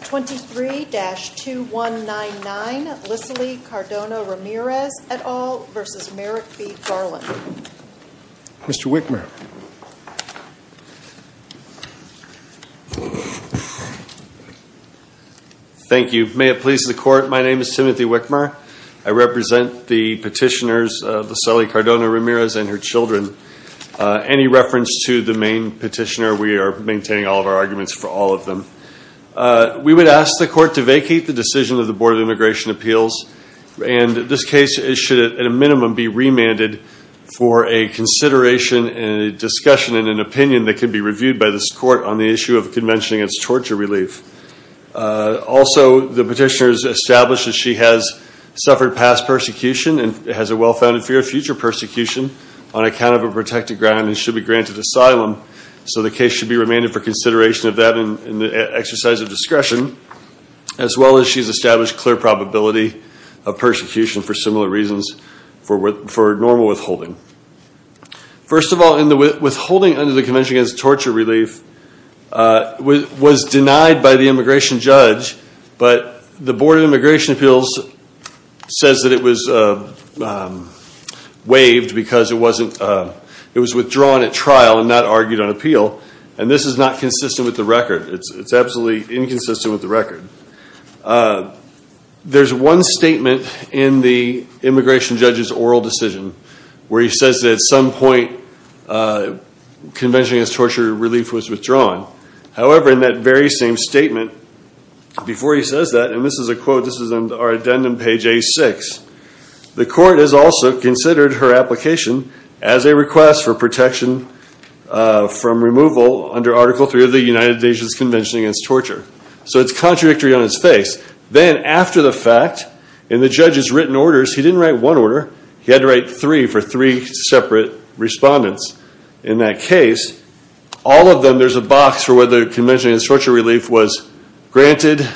23-2199 Lisely Cardona-Ramirez et al. v. Merrick B. Garland Mr. Wickmer Thank you. May it please the Court, my name is Timothy Wickmer. I represent the petitioners, Lisely Cardona-Ramirez and her children. Any reference to the main petitioner, we are maintaining all of our arguments for all of them. We would ask the Court to vacate the decision of the Board of Immigration Appeals. And this case should, at a minimum, be remanded for a consideration and a discussion and an opinion that could be reviewed by this Court on the issue of the Convention against Torture Relief. Also, the petitioner has established that she has suffered past persecution and has a well-founded fear of future persecution on account of a protected ground and should be granted asylum. So the case should be remanded for consideration of that in the exercise of discretion, as well as she has established clear probability of persecution for similar reasons for normal withholding. First of all, withholding under the Convention against Torture Relief was denied by the immigration judge, but the Board of Immigration Appeals says that it was waived because it was withdrawn at trial and not argued on appeal. And this is not consistent with the record. It's absolutely inconsistent with the record. There's one statement in the immigration judge's oral decision where he says that at some point Convention against Torture Relief was withdrawn. However, in that very same statement, before he says that, and this is a quote, this is on our addendum page A6, the Court has also considered her application as a request for protection from removal under Article III of the United Nations Convention against Torture. So it's contradictory on its face. Then, after the fact, in the judge's written orders, he didn't write one order, he had to write three for three separate respondents. In that case, all of them, there's a box for whether Convention against Torture Relief was granted,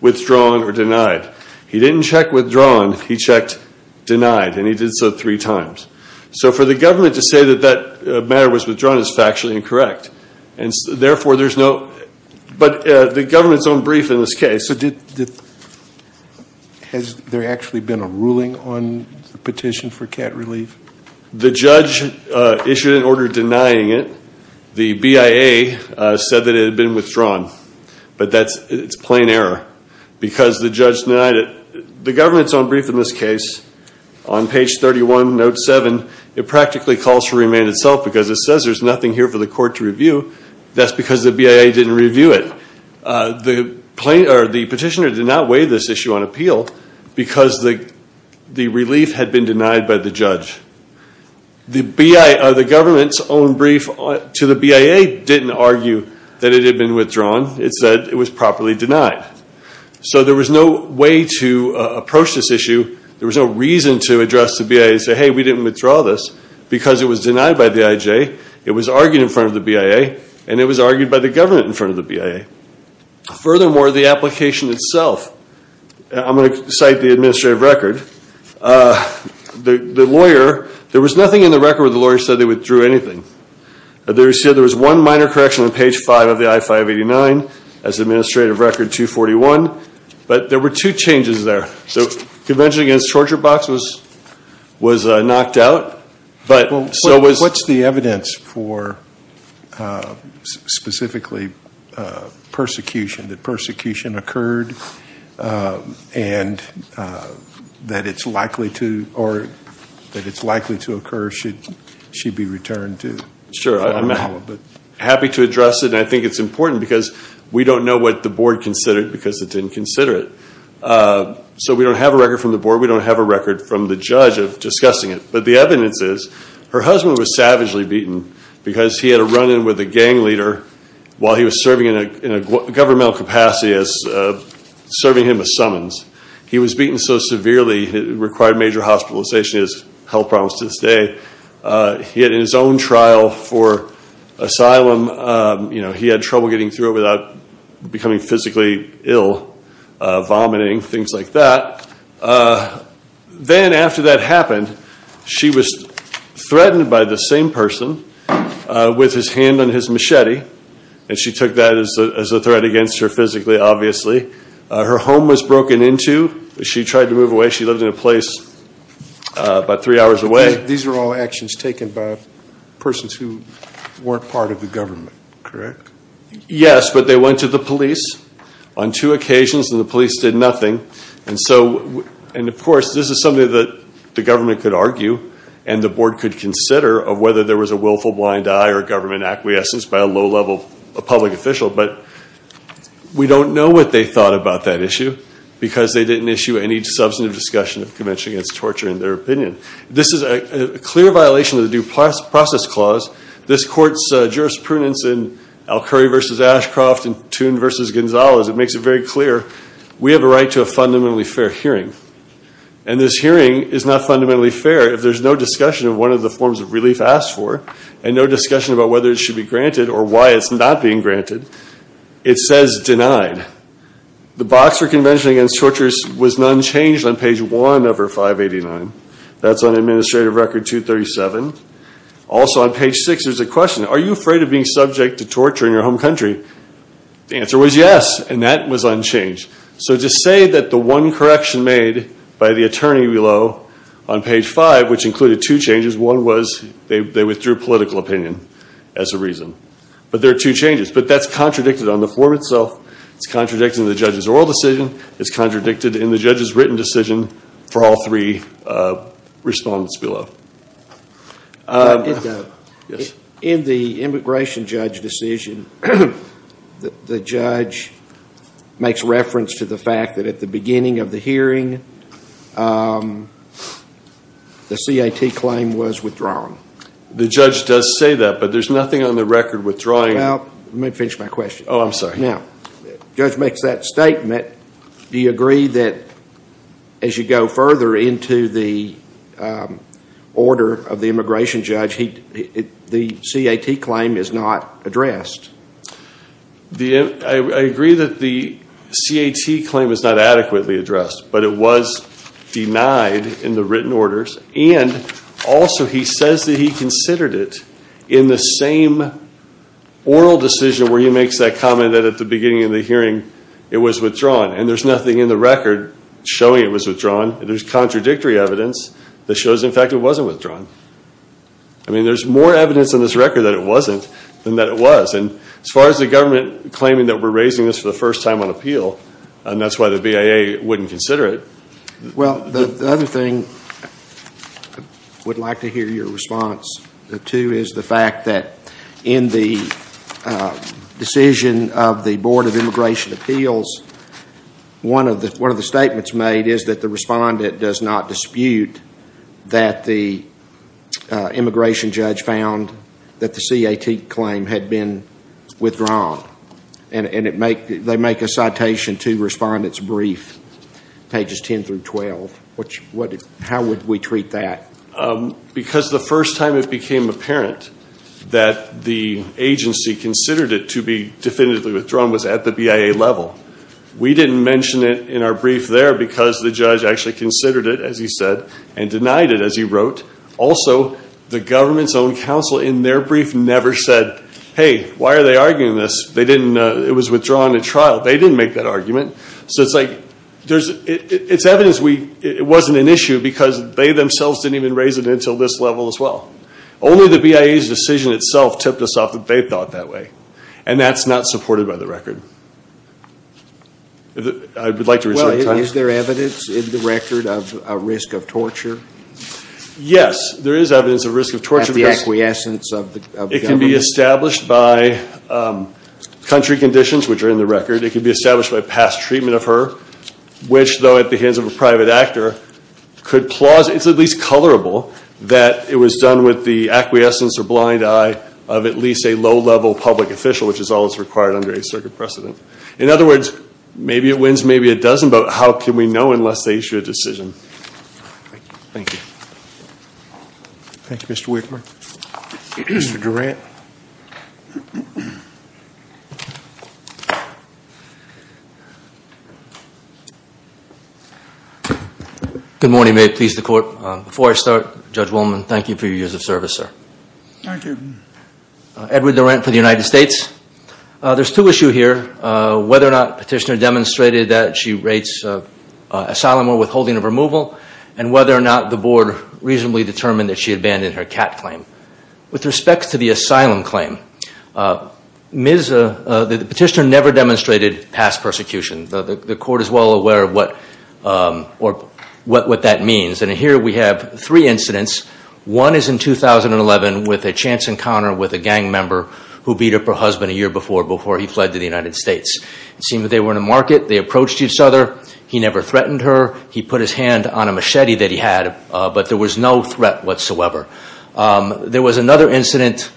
withdrawn, or denied. He didn't check withdrawn, he checked denied, and he did so three times. So for the government to say that that matter was withdrawn is factually incorrect. Therefore, there's no, but the government's own brief in this case. Has there actually been a ruling on the petition for CAT relief? The judge issued an order denying it. The BIA said that it had been withdrawn. But that's, it's plain error. Because the judge denied it. The government's own brief in this case, on page 31, note 7, it practically calls for remand itself because it says there's nothing here for the court to review. That's because the BIA didn't review it. The petitioner did not weigh this issue on appeal because the relief had been denied by the judge. The government's own brief to the BIA didn't argue that it had been withdrawn. It said it was properly denied. So there was no way to approach this issue. There was no reason to address the BIA and say, hey, we didn't withdraw this because it was denied by the IJ. It was argued in front of the BIA, and it was argued by the government in front of the BIA. Furthermore, the application itself, I'm going to cite the administrative record. The lawyer, there was nothing in the record where the lawyer said they withdrew anything. They said there was one minor correction on page 5 of the I-589 as administrative record 241. But there were two changes there. So Convention Against Torture Box was knocked out. So what's the evidence for specifically persecution, that persecution occurred and that it's likely to occur should she be returned to? Sure. I'm happy to address it, and I think it's important because we don't know what the board considered because it didn't consider it. So we don't have a record from the board. We don't have a record from the judge of discussing it. But the evidence is her husband was savagely beaten because he had a run-in with a gang leader while he was serving in a governmental capacity as serving him a summons. He was beaten so severely it required major hospitalization. He has health problems to this day. He had his own trial for asylum. He had trouble getting through it without becoming physically ill, vomiting, things like that. Then after that happened, she was threatened by the same person with his hand on his machete. And she took that as a threat against her physically, obviously. Her home was broken into. She tried to move away. She lived in a place about three hours away. These are all actions taken by persons who weren't part of the government, correct? Yes, but they went to the police on two occasions, and the police did nothing. And, of course, this is something that the government could argue and the board could consider of whether there was a willful blind eye or government acquiescence by a low-level public official. But we don't know what they thought about that issue because they didn't issue any substantive discussion of convention against torture in their opinion. This is a clear violation of the Due Process Clause. This court's jurisprudence in Alcurry v. Ashcroft and Toon v. Gonzalez, it makes it very clear we have a right to a fundamentally fair hearing. And this hearing is not fundamentally fair if there's no discussion of one of the forms of relief asked for and no discussion about whether it should be granted or why it's not being granted. It says denied. The Boxer Convention against Torture was unchanged on page 1 of our 589. That's on Administrative Record 237. Also on page 6, there's a question, are you afraid of being subject to torture in your home country? The answer was yes, and that was unchanged. So to say that the one correction made by the attorney below on page 5, which included two changes, one was they withdrew political opinion as a reason. But there are two changes, but that's contradicted on the form itself. It's contradicted in the judge's oral decision. It's contradicted in the judge's written decision for all three respondents below. In the immigration judge decision, the judge makes reference to the fact that at the beginning of the hearing, the CAT claim was withdrawn. The judge does say that, but there's nothing on the record withdrawing. Well, let me finish my question. Oh, I'm sorry. Now, the judge makes that statement. Do you agree that as you go further into the order of the immigration judge, the CAT claim is not addressed? I agree that the CAT claim is not adequately addressed, but it was denied in the written orders. And also, he says that he considered it in the same oral decision where he makes that comment that at the beginning of the hearing, it was withdrawn, and there's nothing in the record showing it was withdrawn. There's contradictory evidence that shows, in fact, it wasn't withdrawn. I mean, there's more evidence in this record that it wasn't than that it was. And as far as the government claiming that we're raising this for the first time on appeal, and that's why the BIA wouldn't consider it. Well, the other thing I would like to hear your response to is the fact that in the decision of the Board of Immigration Appeals, one of the statements made is that the respondent does not dispute that the immigration judge found that the CAT claim had been withdrawn. And they make a citation to respondents' brief, pages 10 through 12. How would we treat that? Because the first time it became apparent that the agency considered it to be definitively withdrawn was at the BIA level. We didn't mention it in our brief there because the judge actually considered it, as he said, and denied it, as he wrote. Also, the government's own counsel in their brief never said, hey, why are they arguing this? It was withdrawn in trial. They didn't make that argument. So it's like it's evidence it wasn't an issue because they themselves didn't even raise it until this level as well. Only the BIA's decision itself tipped us off that they thought that way. And that's not supported by the record. I would like to reserve time. Well, is there evidence in the record of a risk of torture? Yes, there is evidence of risk of torture. At the acquiescence of the government? It can be established by country conditions, which are in the record. It can be established by past treatment of her, which, though at the hands of a private actor, could plause. It's at least colorable that it was done with the acquiescence or blind eye of at least a low-level public official, which is all that's required under a circuit precedent. In other words, maybe it wins, maybe it doesn't. But how can we know unless they issue a decision? Thank you. Thank you, Mr. Whitmer. Mr. Durant. Good morning. May it please the Court. Before I start, Judge Woolman, thank you for your years of service, sir. Thank you. Edward Durant for the United States. There's two issues here, whether or not Petitioner demonstrated that she rates asylum or withholding of removal, and whether or not the Board reasonably determined that she abandoned her CAT claim. With respect to the asylum claim, Petitioner never demonstrated past persecution. The Court is well aware of what that means. And here we have three incidents. One is in 2011 with a chance encounter with a gang member who beat up her husband a year before, before he fled to the United States. It seemed that they were in a market. They approached each other. He never threatened her. He put his hand on a machete that he had, but there was no threat whatsoever. There was another incident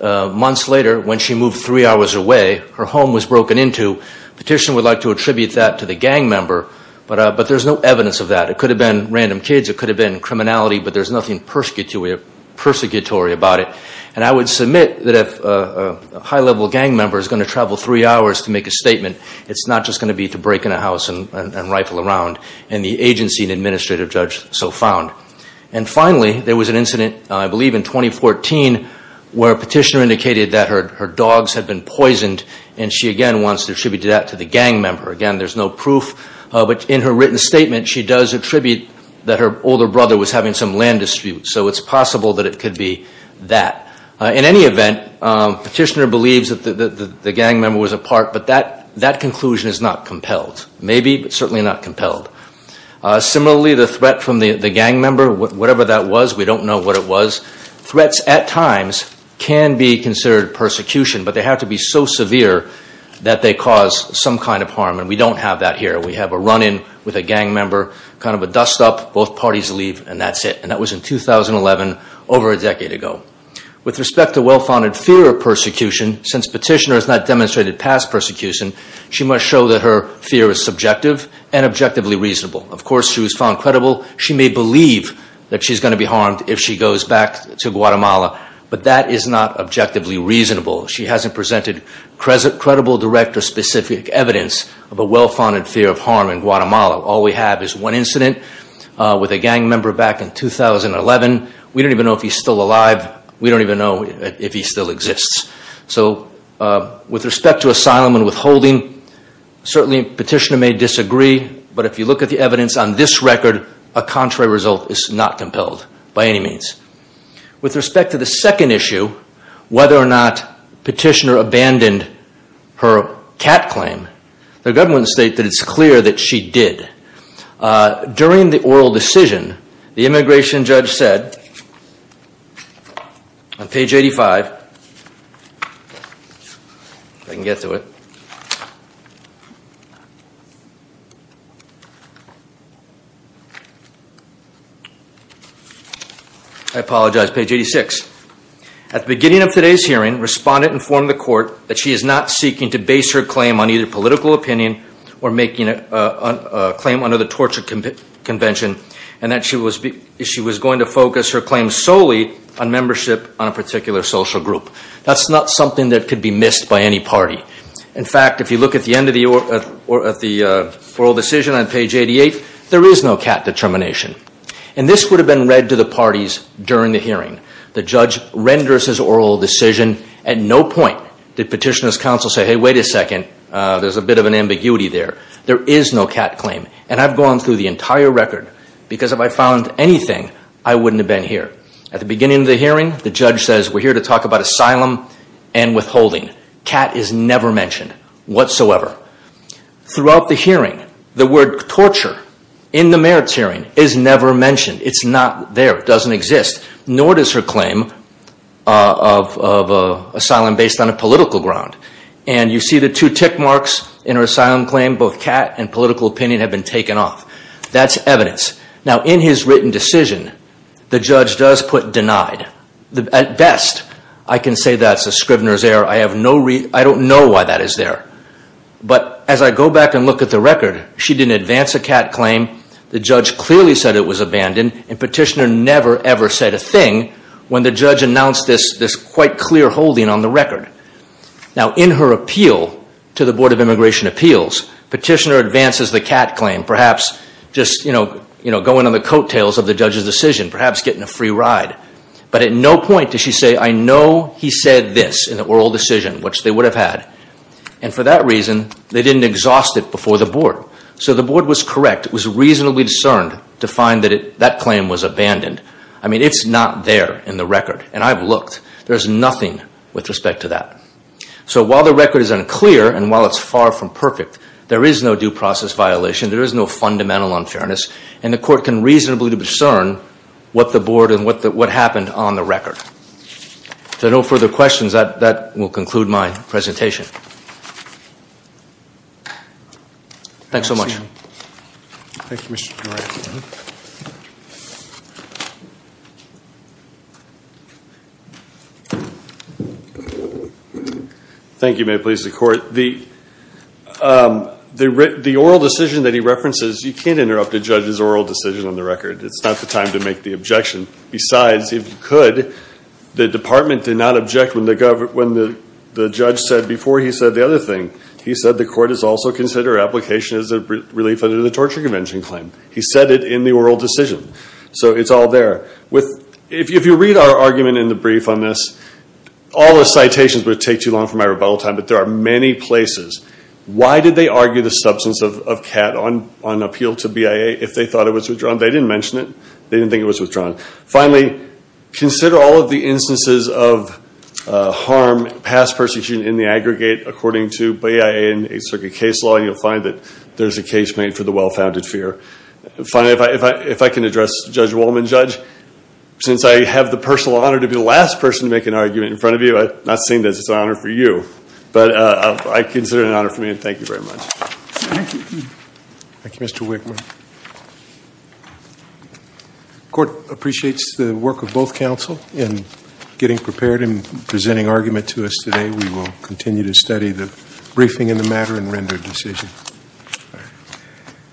months later when she moved three hours away. Her home was broken into. Petitioner would like to attribute that to the gang member, but there's no evidence of that. It could have been random kids. It could have been criminality. But there's nothing persecutory about it. And I would submit that if a high-level gang member is going to travel three hours to make a statement, it's not just going to be to break in a house and rifle around. And the agency and administrative judge so found. And finally, there was an incident, I believe in 2014, where Petitioner indicated that her dogs had been poisoned, and she again wants to attribute that to the gang member. Again, there's no proof. But in her written statement, she does attribute that her older brother was having some land disputes. So it's possible that it could be that. In any event, Petitioner believes that the gang member was a part, but that conclusion is not compelled. Maybe, but certainly not compelled. Similarly, the threat from the gang member, whatever that was, we don't know what it was. Threats at times can be considered persecution, but they have to be so severe that they cause some kind of harm. And we don't have that here. We have a run-in with a gang member, kind of a dust-up, both parties leave, and that's it. And that was in 2011, over a decade ago. With respect to well-founded fear of persecution, since Petitioner has not demonstrated past persecution, she must show that her fear is subjective and objectively reasonable. Of course, she was found credible. She may believe that she's going to be harmed if she goes back to Guatemala, but that is not objectively reasonable. She hasn't presented credible, direct, or specific evidence of a well-founded fear of harm in Guatemala. All we have is one incident with a gang member back in 2011. We don't even know if he's still alive. We don't even know if he still exists. So with respect to asylum and withholding, certainly Petitioner may disagree, but if you look at the evidence on this record, a contrary result is not compelled by any means. With respect to the second issue, whether or not Petitioner abandoned her cat claim, the government state that it's clear that she did. During the oral decision, the immigration judge said, on page 85, if I can get to it. I apologize, page 86. At the beginning of today's hearing, respondent informed the court that she is not seeking to base her claim on either political opinion or making a claim under the torture convention, and that she was going to focus her claim solely on membership on a particular social group. That's not something that could be missed by any party. In fact, if you look at the end of the oral decision on page 88, there is no cat determination. And this would have been read to the parties during the hearing. The judge renders his oral decision. At no point did Petitioner's counsel say, hey, wait a second, there's a bit of an ambiguity there. There is no cat claim. And I've gone through the entire record, because if I found anything, I wouldn't have been here. At the beginning of the hearing, the judge says, we're here to talk about asylum and withholding. Cat is never mentioned whatsoever. Throughout the hearing, the word torture in the merits hearing is never mentioned. It's not there. It doesn't exist. Nor does her claim of asylum based on a political ground. And you see the two tick marks in her asylum claim. Both cat and political opinion have been taken off. That's evidence. Now, in his written decision, the judge does put denied. At best, I can say that's a Scrivener's error. I don't know why that is there. But as I go back and look at the record, she didn't advance a cat claim. The judge clearly said it was abandoned. And Petitioner never, ever said a thing when the judge announced this quite clear holding on the record. Now, in her appeal to the Board of Immigration Appeals, Petitioner advances the cat claim, perhaps just going on the coattails of the judge's decision, perhaps getting a free ride. But at no point does she say, I know he said this in the oral decision, which they would have had. And for that reason, they didn't exhaust it before the board. So the board was correct. It was reasonably discerned to find that that claim was abandoned. I mean, it's not there in the record. And I've looked. There's nothing with respect to that. So while the record is unclear and while it's far from perfect, there is no due process violation. There is no fundamental unfairness. And the court can reasonably discern what the board and what happened on the record. If there are no further questions, that will conclude my presentation. Thanks so much. Thank you, Mr. Dore. Thank you. May it please the court. The oral decision that he references, you can't interrupt a judge's oral decision on the record. It's not the time to make the objection. Besides, if you could, the department did not object when the judge said, before he said the other thing, he said the court has also considered application as a relief under the Torture Convention claim. He said it in the oral decision. So it's all there. If you read our argument in the brief on this, all the citations would take too long for my rebuttal time, but there are many places. Why did they argue the substance of Catt on appeal to BIA if they thought it was withdrawn? They didn't mention it. They didn't think it was withdrawn. Finally, consider all of the instances of harm past persecution in the aggregate according to BIA and a circuit case law, and you'll find that there's a case made for the well-founded fear. Finally, if I can address Judge Wolman. Judge, since I have the personal honor to be the last person to make an argument in front of you, I'm not saying this is an honor for you, but I consider it an honor for me, and thank you very much. Thank you. Mr. Wickman. The court appreciates the work of both counsel in getting prepared and presenting argument to us today. We will continue to study the briefing in the matter and render a decision.